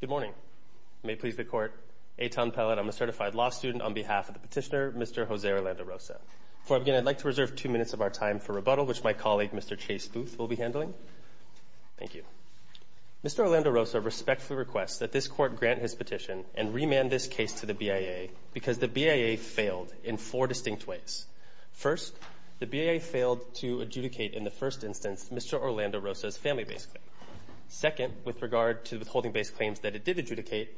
Good morning. May it please the court, Eitan Pellett, I'm a certified law student on behalf of the petitioner, Mr. Jose Orlando Rosa. Before I begin, I'd like to reserve two minutes of our time for rebuttal, which my colleague, Mr. Chase Booth, will be handling. Thank you. Mr. Orlando Rosa respectfully requests that this court grant his petition and remand this case to the BIA because the BIA failed in four distinct ways. First, the BIA failed to adjudicate, in the first instance, Mr. Orlando Rosa's family-based claim. Second, with regard to the withholding-based claims that it did adjudicate,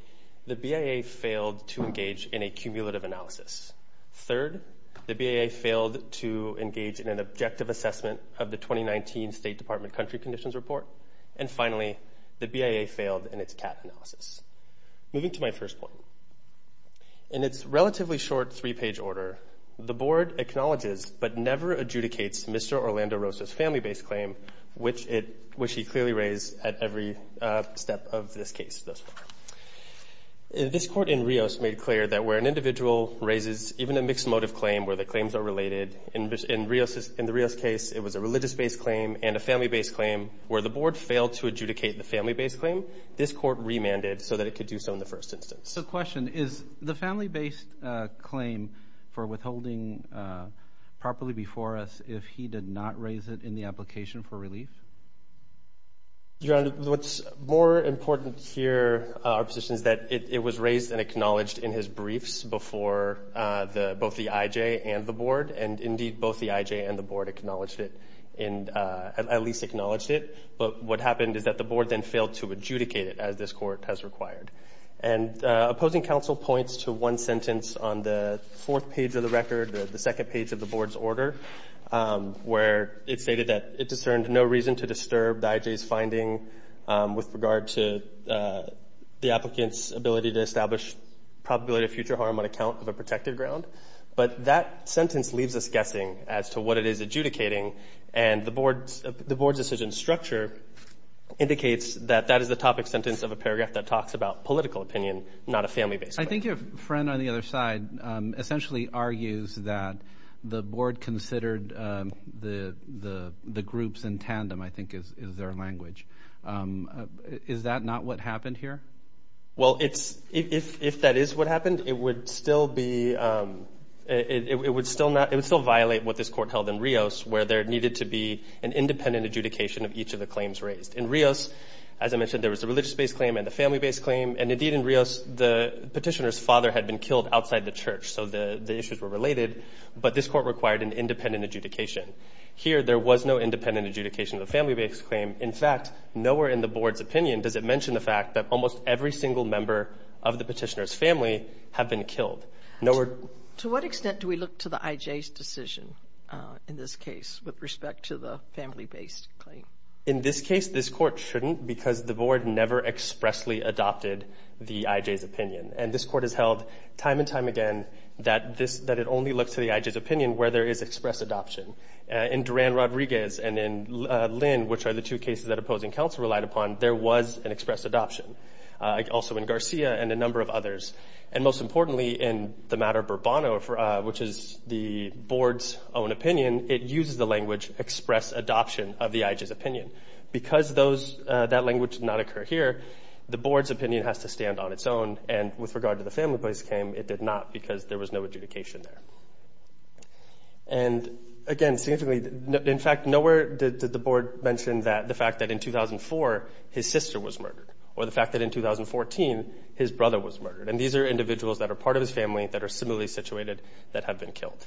the BIA failed to engage in a cumulative analysis. Third, the BIA failed to engage in an objective assessment of the 2019 State Department Country Conditions Report. And finally, the BIA failed in its CAT analysis. Moving to my first point. In its relatively short three-page order, the Mr. Orlando Rosa's family-based claim, which he clearly raised at every step of this case thus far. This court in Rios made clear that where an individual raises even a mixed motive claim where the claims are related, in the Rios case, it was a religious-based claim and a family-based claim, where the board failed to adjudicate the family-based claim, this court remanded so that it could do so in the first instance. So the question is, the family-based claim for withholding properly before us, if he did not raise it in the application for relief? Your Honor, what's more important here, our position is that it was raised and acknowledged in his briefs before both the IJ and the board. And indeed, both the IJ and the board acknowledged it, at least acknowledged it. But what happened is that the board then failed to adjudicate it as this court has required. And opposing counsel points to one sentence on the fourth page of the record, the second page of the board's order, where it stated that it discerned no reason to disturb the IJ's finding with regard to the applicant's ability to establish probability of future harm on account of a protected ground. But that sentence leaves us guessing as to what it is adjudicating, and the board's decision structure indicates that that is the topic sentence of a paragraph that talks about political opinion, not a family-based claim. I think your friend on the other side essentially argues that the board considered the groups in tandem, I think is their language. Is that not what happened here? Well, if that is what happened, it would still violate what this court held in Rios, where there needed to be an independent adjudication of each of the claims raised. In Rios, as I mentioned, there was a religious-based claim and a family-based claim. And indeed, in Rios, the petitioner's father had been killed outside the church, so the issues were related, but this court required an independent adjudication. Here, there was no independent adjudication of the family-based claim. In fact, nowhere in the board's opinion does it mention the fact that almost every single member of the petitioner's family have been killed. To what extent do we look to the IJ's decision in this case with respect to the family-based claim? In this case, this court shouldn't because the board never expressly adopted the IJ's opinion. And this court has held time and time again that it only looks to the IJ's opinion where there is express adoption. In Duran-Rodriguez and in Lynn, which are the two cases that opposing counsel relied upon, there was an express adoption. Also in Garcia and a number of others. And most importantly, in the matter of Bourbon, which is the board's own opinion, it uses the language express adoption of the IJ's opinion. Because that language did not occur here, the board's opinion has to stand on its own. And with regard to the family-based claim, it did not because there was no adjudication there. And again, significantly, in fact, nowhere did the board mention the fact that in 2004, his sister was murdered. Or the fact that in 2014, his brother was murdered. And these are individuals that are part of his family, that are similarly situated, that have been killed.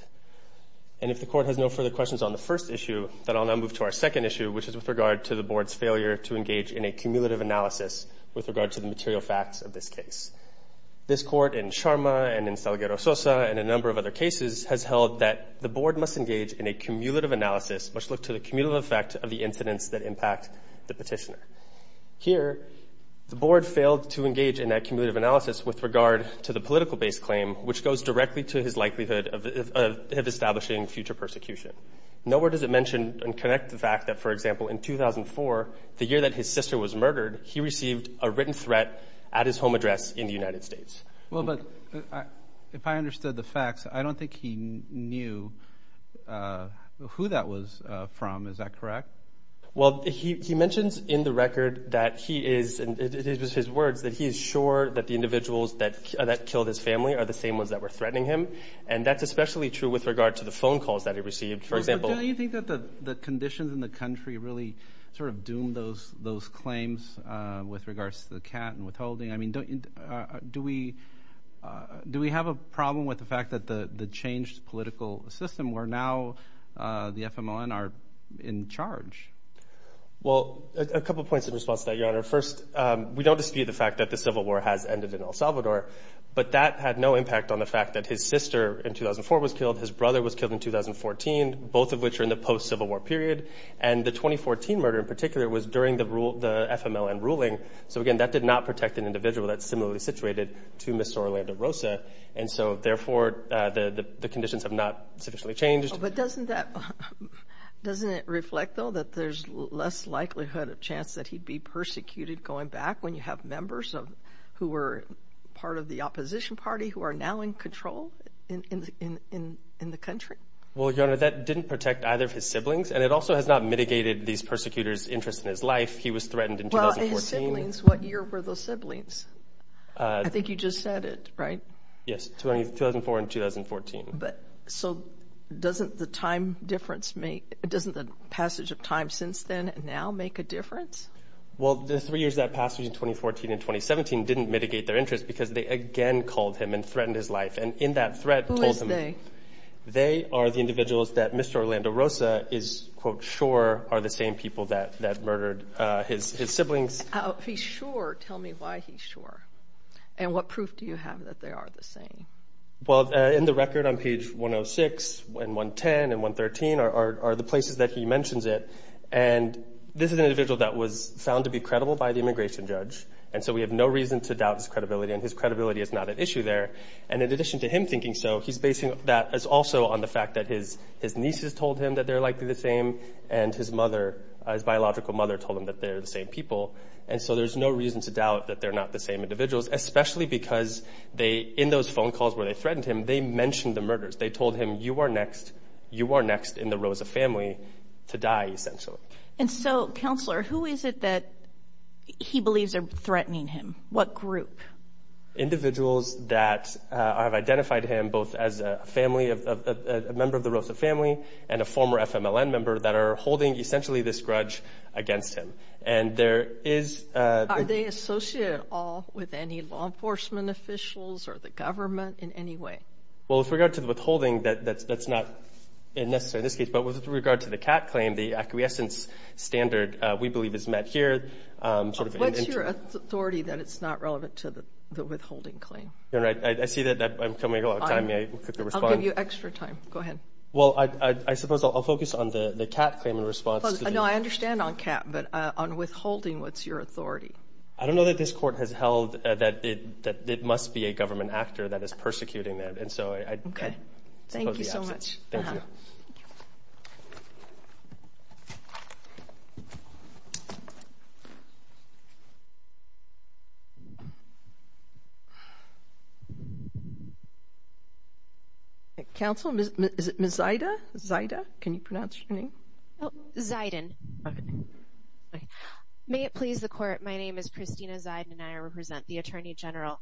And if the court has no further questions on the first issue, then I'll now move to our second issue, which is with regard to the board's failure to engage in a cumulative analysis with regard to the material facts of this case. This court in Sharma and in Salgado-Sosa and a number of other cases has held that the board must engage in a cumulative analysis which looks to the cumulative effect of the Here, the board failed to engage in that cumulative analysis with regard to the political-based claim, which goes directly to his likelihood of establishing future persecution. Nowhere does it mention and connect the fact that, for example, in 2004, the year that his sister was murdered, he received a written threat at his home address in the United States. Well, but if I understood the facts, I don't think he knew who that was from. Is that correct? Well, he mentions in the record that he is, and it was his words, that he is sure that the individuals that killed his family are the same ones that were threatening him. And that's especially true with regard to the phone calls that he received, for example. But don't you think that the conditions in the country really sort of doomed those claims with regards to the cat and withholding? I mean, do we have a problem with the fact that the changed political system where now the FMLN are in charge? Well, a couple of points in response to that, Your Honor. First, we don't dispute the fact that the Civil War has ended in El Salvador, but that had no impact on the fact that his sister in 2004 was killed, his brother was killed in 2014, both of which are in the post-Civil War period. And the 2014 murder in particular was during the rule, the FMLN ruling. So again, that did not protect an individual that's similarly situated to Mr. Orlando Rosa. And so therefore, the conditions have not sufficiently changed. But doesn't that, doesn't it reflect, though, that there's less likelihood of chance that he'd be persecuted going back when you have members of, who were part of the opposition party who are now in control in the country? Well, Your Honor, that didn't protect either of his siblings, and it also has not mitigated these persecutors' interest in his life. He was threatened in 2014. Well, his siblings, what year were those siblings? I think you just said it, right? Yes, 2004 and 2014. But, so doesn't the time difference make, doesn't the passage of time since then now make a difference? Well, the three years that passed between 2014 and 2017 didn't mitigate their interest because they again called him and threatened his life. And in that threat told him... Who is they? They are the individuals that Mr. Orlando Rosa is, quote, sure are the same people that murdered his siblings. He's sure. Tell me why he's sure. And what proof do you have that they are the same? Well, in the record on page 106 and 110 and 113 are the places that he mentions it. And this is an individual that was found to be credible by the immigration judge. And so we have no reason to doubt his credibility, and his credibility is not at issue there. And in addition to him thinking so, he's basing that also on the fact that his nieces told him that they're likely the same, and his mother, his biological mother, told him that they're the same people. And so there's no reason to doubt that they're not the same individuals, especially because in those phone calls where they threatened him, they mentioned the murders. They told him, you are next. You are next in the Rosa family to die, essentially. And so, counselor, who is it that he believes are threatening him? What group? Individuals that have identified him both as a member of the Rosa family and a former FMLN member that are holding, essentially, this grudge against him. And there is... Are they associated at all with any law enforcement officials or the government in any way? Well, with regard to the withholding, that's not necessary in this case. But with regard to the CAT claim, the acquiescence standard, we believe, is met here, sort of in... What's your authority that it's not relevant to the withholding claim? You're right. I see that I'm coming a long time. May I quickly respond? I'll give you extra time. Go ahead. Well, I suppose I'll focus on the CAT claim in response to the... No, I understand on CAT, but on withholding, what's your authority? I don't know that this court has held that it must be a government actor that is persecuting them. And so, I... Okay. Thank you so much. Thank you. Counsel, is it Ms. Zida? Zida, can you pronounce your name? Zidon. Okay. May it please the court, my name is Christina Zidon, and I represent the Attorney General.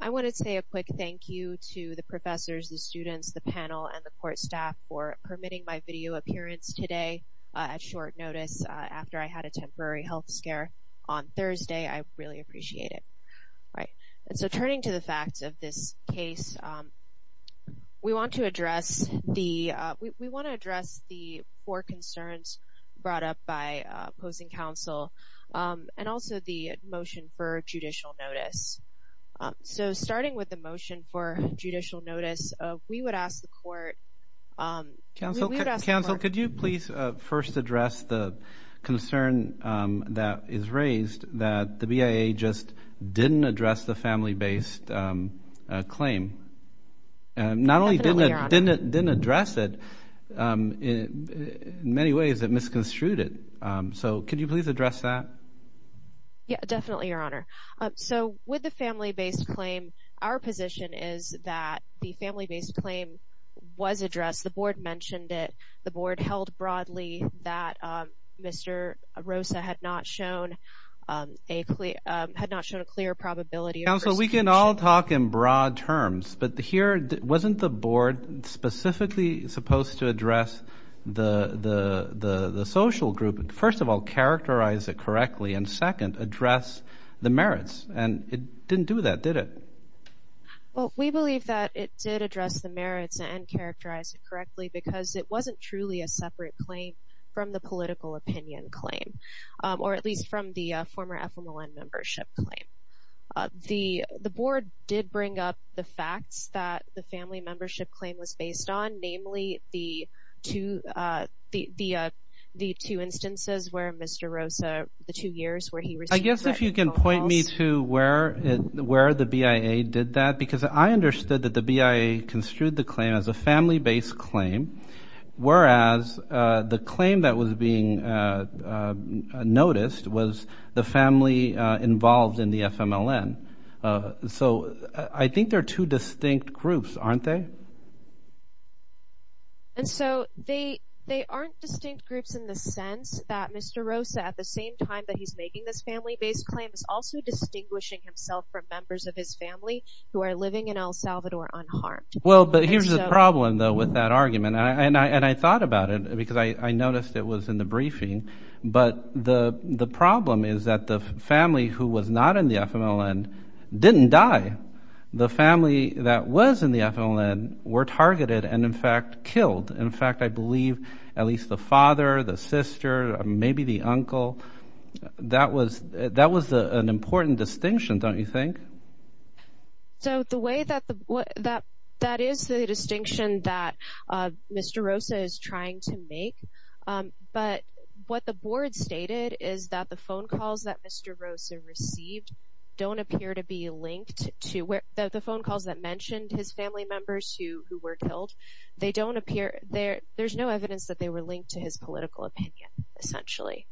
I want to say a quick thank you to the professors, the students, the panel, and the court staff for permitting my video appearance today at short notice after I had a temporary health scare on Thursday. I really appreciate it. All right. And so, turning to the facts of this case, we want to address the... We want to address the four concerns brought up by opposing counsel, and also the motion for judicial notice. So, starting with the motion for judicial notice, we would ask the court... Counsel, could you please first address the concern that is raised that the BIA just didn't address the family-based claim? Not only didn't it address it, in many ways, it misconstrued it. So, could you please address that? Yeah, definitely, Your Honor. So, with the family-based claim, our position is that the family-based claim was addressed. The board mentioned it. The board held broadly that Mr. Rosa had not shown a clear probability of persecution. Counsel, we can all talk in broad terms, but here, wasn't the board specifically supposed to address the social group, and first of all, characterize it correctly, and second, address the merits? And it didn't do that, did it? Well, we believe that it did address the merits and characterize it correctly because it wasn't truly a separate claim from the political opinion claim, or at least from the former FMLN membership claim. The board did bring up the facts that the family membership claim was based on, namely, the two instances where Mr. Rosa, the two years where he received the written calls. I guess if you can point me to where the BIA did that, because I understood that the BIA construed the claim as a family-based claim, whereas the claim that was being noticed was the family involved in the FMLN. So, I think they're two distinct groups, aren't they? And so, they aren't distinct groups in the sense that Mr. Rosa, at the same time that he's making this family-based claim, is also distinguishing himself from members of his family who are living in El Salvador unharmed. Well, but here's the problem, though, with that argument, and I thought about it because I noticed it was in the briefing, but the problem is that the family who was not in the FMLN didn't die. The family that was in the FMLN were targeted and, in fact, killed. In fact, I believe at least the father, the sister, maybe the uncle, that was an important distinction, don't you think? So, the way that the, that is the distinction that Mr. Rosa is trying to make, but what the board stated is that the phone calls that Mr. Rosa received don't appear to be linked to, the phone calls that mentioned his family members who were killed, they don't appear, there's no evidence that they were linked to his political opinion, essentially.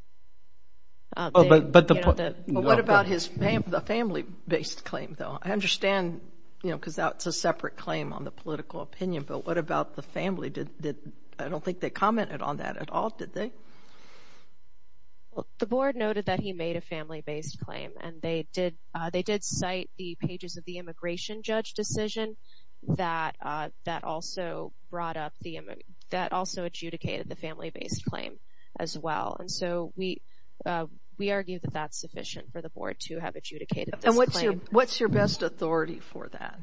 Oh, but, but the, what about his, the family-based claim, though? I understand, you know, because that's a separate claim on the political opinion, but what about the family? Did, did, I don't think they commented on that at all, did they? The board noted that he made a family-based claim, and they did, they did cite the pages of the immigration judge decision that, that also brought up the, that also adjudicated the family-based claim as well, and so we, we argue that that's sufficient for the board to have adjudicated this claim. And what's your, what's your best authority for that?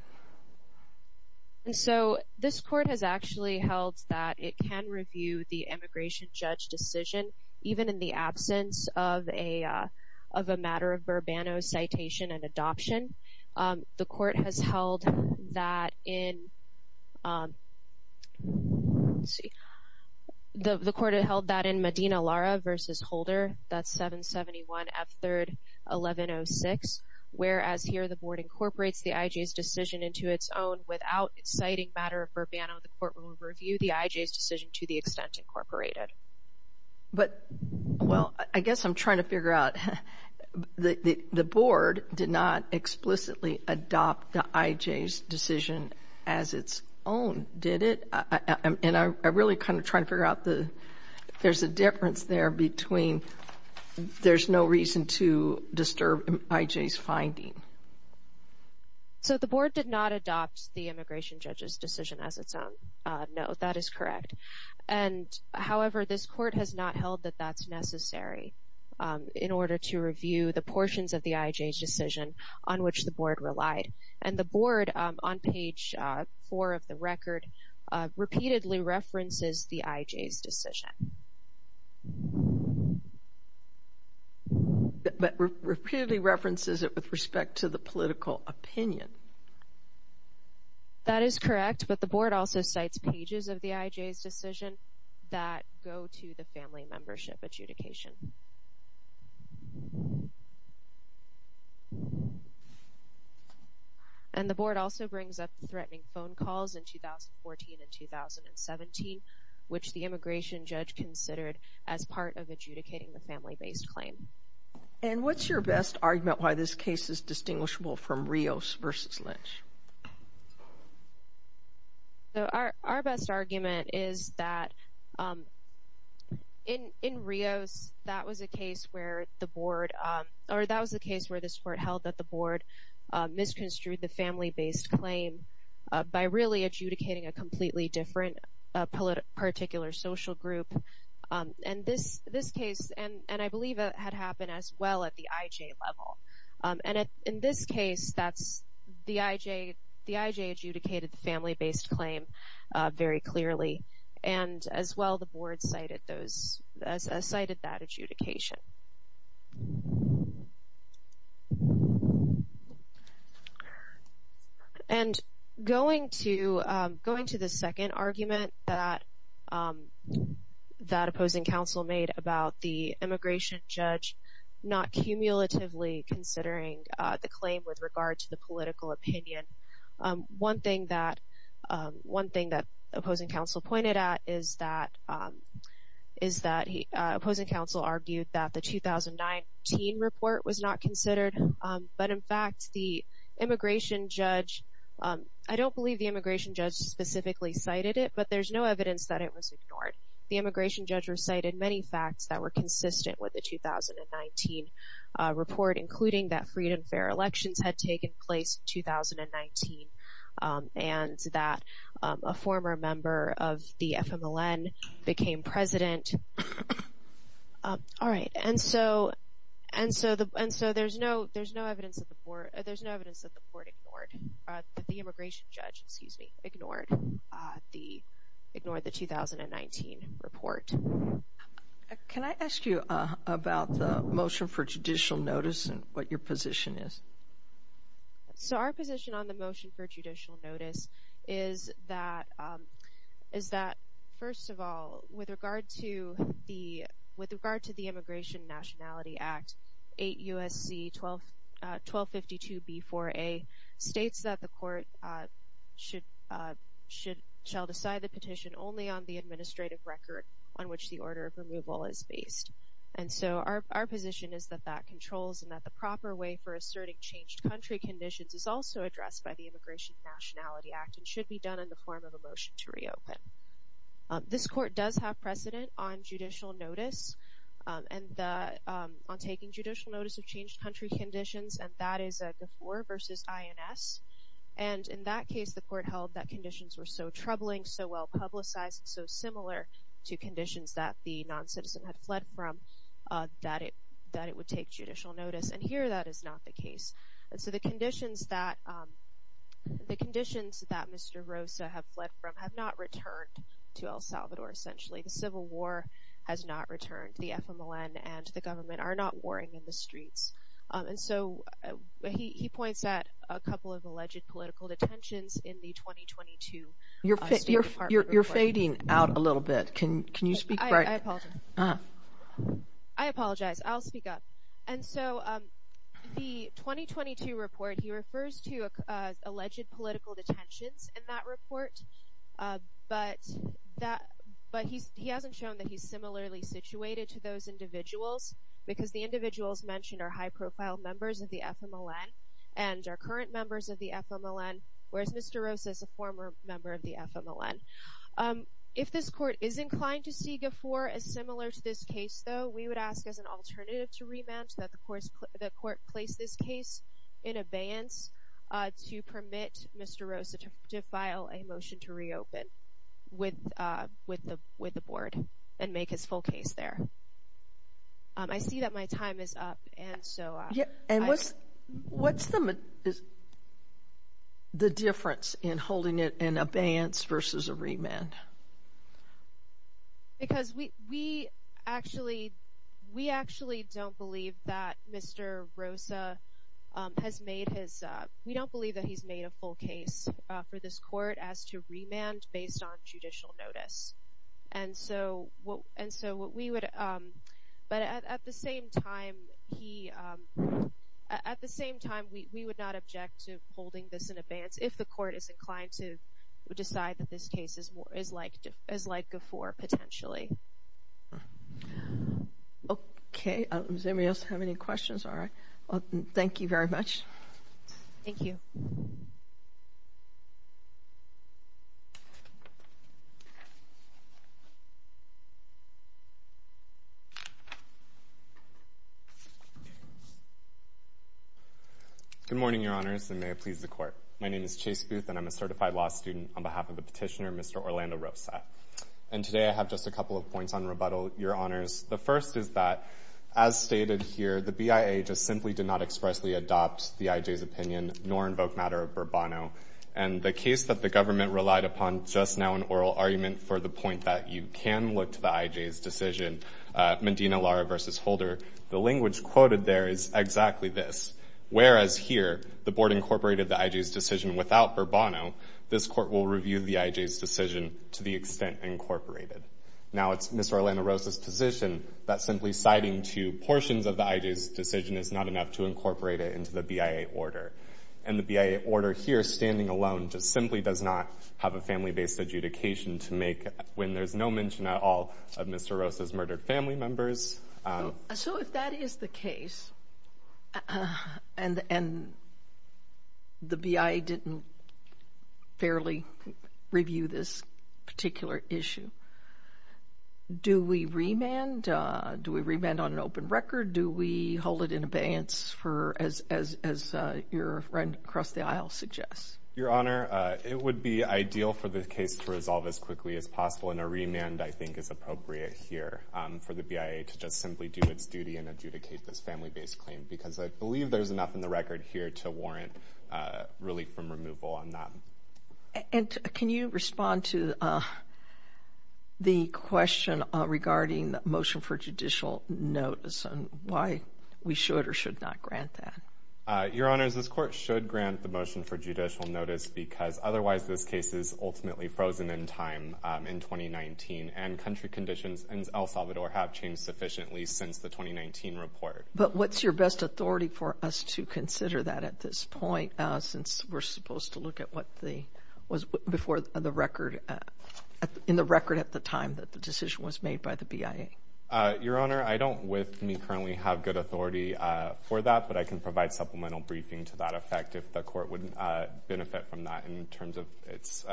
And so, this court has actually held that it can review the immigration judge decision, even in the absence of a, of a matter of Burbano citation and adoption. The court has held that in, let's see, the, the court held that in Medina-Lara v. Holder, that's 771 F. 3rd 1106, whereas here the board incorporates the IJ's decision into its own without citing matter of Burbano, the court will review the IJ's decision to the extent incorporated. But, well, I guess I'm trying to figure out, the, the, the board did not explicitly adopt the IJ's decision as its own, did it? And I, I really kind of try to figure out the, there's a difference there between, there's no reason to disturb IJ's finding. So the board did not adopt the immigration judge's decision as its own. No, that is correct. And however, this court has not held that that's necessary in order to review the portions of the IJ's decision on which the board relied. And the board, on page four of the record, repeatedly references the IJ's decision. But repeatedly references it with respect to the political opinion. That is correct, but the board also cites pages of the IJ's decision that go to the family membership adjudication. And the board also brings up the threatening phone calls in 2014 and 2017, which the immigration judge considered as part of adjudicating the family-based claim. And what's your best argument why this case is distinguishable from Rios versus Lynch? So our, our best argument is that in, in Rios, that was a case where the board, or that was the case where this court held that the board misconstrued the family-based claim by really adjudicating a completely different particular social group. And this, this case, and I believe it had happened as well at the IJ level. And in this case, that's the IJ, the IJ adjudicated the family-based claim very clearly. And as well, the board cited those, cited that adjudication. And going to, going to the second argument that, that opposing counsel made about the immigration judge not cumulatively considering the claim with regard to the political opinion. One thing that, one thing that opposing counsel pointed at is that, is that he, opposing counsel argued that the 2019 report was not considered. But in fact, the immigration judge, I don't believe the immigration judge specifically cited it, but there's no evidence that it was ignored. The immigration judge recited many facts that were consistent with the 2019 report, including that freedom fair elections had taken place in 2019, and that a former member of the FMLN became president. All right, and so, and so the, and so there's no, there's no evidence that the board, there's no evidence that the board ignored, that the immigration judge, excuse me, ignored the, ignored the 2019 report. Can I ask you about the motion for judicial notice and what your position is? So our position on the motion for judicial notice is that, is that, first of all, with regard to the, with regard to the Immigration Nationality Act 8 U.S.C. 12, 1252 B.4.A. states that the court should, should, shall decide the petition only on the administrative record on which the order of removal is based. And so our, our position is that that controls and that the proper way for asserting changed country conditions is also addressed by the Immigration Nationality Act and should be done in the form of a motion to reopen. This court does have precedent on judicial notice and the, on taking judicial notice of changed country conditions, and that is a before versus INS. And in that case, the court held that conditions were so troubling, so well publicized, so similar to conditions that the non-citizen had fled from, that it, that it would take judicial notice. And here that is not the case. And so the conditions that, the conditions that Mr. Rosa have fled from have not returned to El Salvador, essentially. The Civil War has not returned. The FMLN and the government are not warring in the streets. And so he, he points at a couple of alleged political detentions in the 2022 State Department. You're fading out a little bit. Can you speak? I apologize. I'll speak up. And so the 2022 report, he refers to alleged political detentions in that report. But that, but he's, he hasn't shown that he's similarly situated to those individuals because the individuals mentioned are high profile members of the FMLN and are current members of the FMLN, whereas Mr. Rosa is a former member of the FMLN. If this court is inclined to see GFOR as similar to this case, though, we would ask as an alternative to remand that the courts, the court place this case in abeyance to permit Mr. Rosa to file a motion to reopen with, with the, with the board and make his full case there. I see that my time is up. And so, yeah. And what's, what's the, the difference in holding it in abeyance versus a remand? Because we, we actually, we actually don't believe that Mr. Rosa has made his, we don't believe that he's made a full case for this court as to remand based on judicial notice. And so what, and so what we would, but at the same time, he, at the same time, we would not object to holding this in abeyance if the court is inclined to decide that this case is more, is like, is like GFOR potentially. Okay. Does anybody else have any questions? All right. Thank you very much. Thank you. Good morning, Your Honors, and may it please the court. My name is Chase Booth, and I'm a certified law student on behalf of the petitioner, Mr. Orlando Rosa. And today I have just a couple of points on rebuttal, Your Honors. The first is that, as stated here, the BIA just simply did not expressly adopt the IJ's opinion nor invoke matter of Bourbono. And the case that the government relied upon just now in oral argument for the point that you can look to the IJ's decision, Medina Lara versus Holder, the language quoted there is exactly this. Whereas here, the board incorporated the IJ's decision without Bourbono, this court will review the IJ's decision to the extent incorporated. Now it's Mr. Orlando Rosa's position that simply citing two portions of the IJ's decision is not enough to incorporate it into the BIA order. And the BIA order here, standing alone, just simply does not have a family-based adjudication to make when there's no mention at all of Mr. Rosa's murdered family members. So if that is the case, and the BIA didn't fairly review this particular issue, do we remand? Do we remand on an open record? Do we hold it in abeyance for, as your friend across the aisle suggests? Your Honor, it would be ideal for the case to resolve as quickly as possible. And a remand, I think, is appropriate here for the BIA to just simply do its duty and adjudicate this family-based claim. Because I believe there's enough in the record here to warrant relief from removal on that. And can you respond to the question regarding the motion for judicial notice and why we should or should not grant that? Your Honor, this court should grant the motion for judicial notice because otherwise this case is ultimately frozen in time in 2019. And country conditions in El Salvador have changed sufficiently since the 2019 report. But what's your best authority for us to consider that at this point since we're supposed to look at what was before the record, in the record at the time that the decision was made by the BIA? Your Honor, I don't with me currently have good authority for that. But I can provide supplemental briefing to that effect if the court would benefit from that in terms of its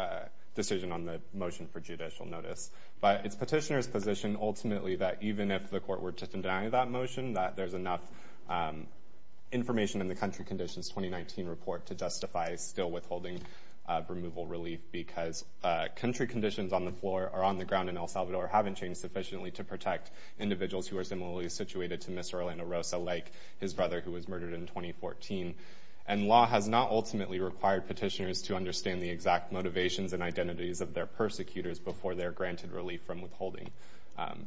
decision on the motion for judicial notice. But it's petitioner's position ultimately that even if the court were to deny that motion, that there's enough information in the country conditions 2019 report to justify still withholding removal relief. Because country conditions on the floor, or on the ground in El Salvador, haven't changed sufficiently to protect individuals who are similarly situated to Mr. Orlando Rosa, like his brother who was murdered in 2014. And law has not ultimately required petitioners to understand the exact motivations and identities of their persecutors before they're granted relief from withholding.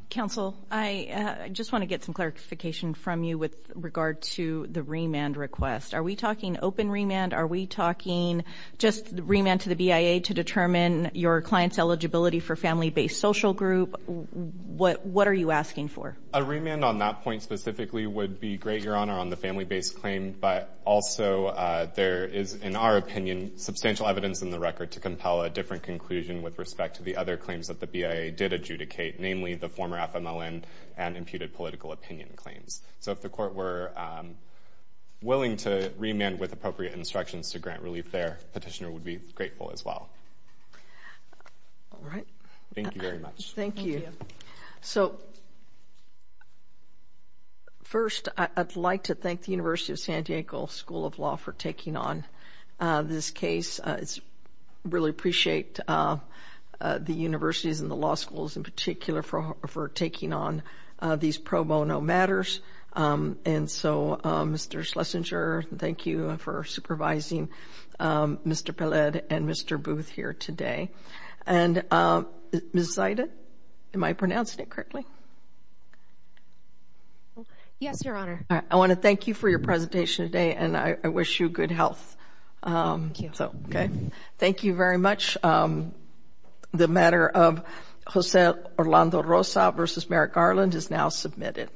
Counsel, I just want to get some clarification from you with regard to the remand request. Are we talking open remand? Are we talking just remand to the BIA to determine your client's eligibility for family-based social group? What are you asking for? A remand on that point specifically would be great, Your Honor, on the family-based claim. But also there is, in our opinion, substantial evidence in the record to compel a different conclusion with respect to the other claims that the BIA did adjudicate, namely the former FMLN and imputed political opinion claims. So if the court were willing to remand with appropriate instructions to grant relief there, petitioner would be grateful as well. All right. Thank you very much. Thank you. So first, I'd like to thank the University of San Diego School of Law for taking on this case. I really appreciate the universities and the law schools in particular for taking on these pro bono matters. And so, Mr. Schlesinger, thank you for supervising Mr. Pellet and Mr. Booth here today. And Ms. Zida, am I pronouncing it correctly? Yes, Your Honor. I want to thank you for your presentation today and I wish you good health. Thank you very much. The matter of Jose Orlando Rosa v. Merrick Garland is now submitted.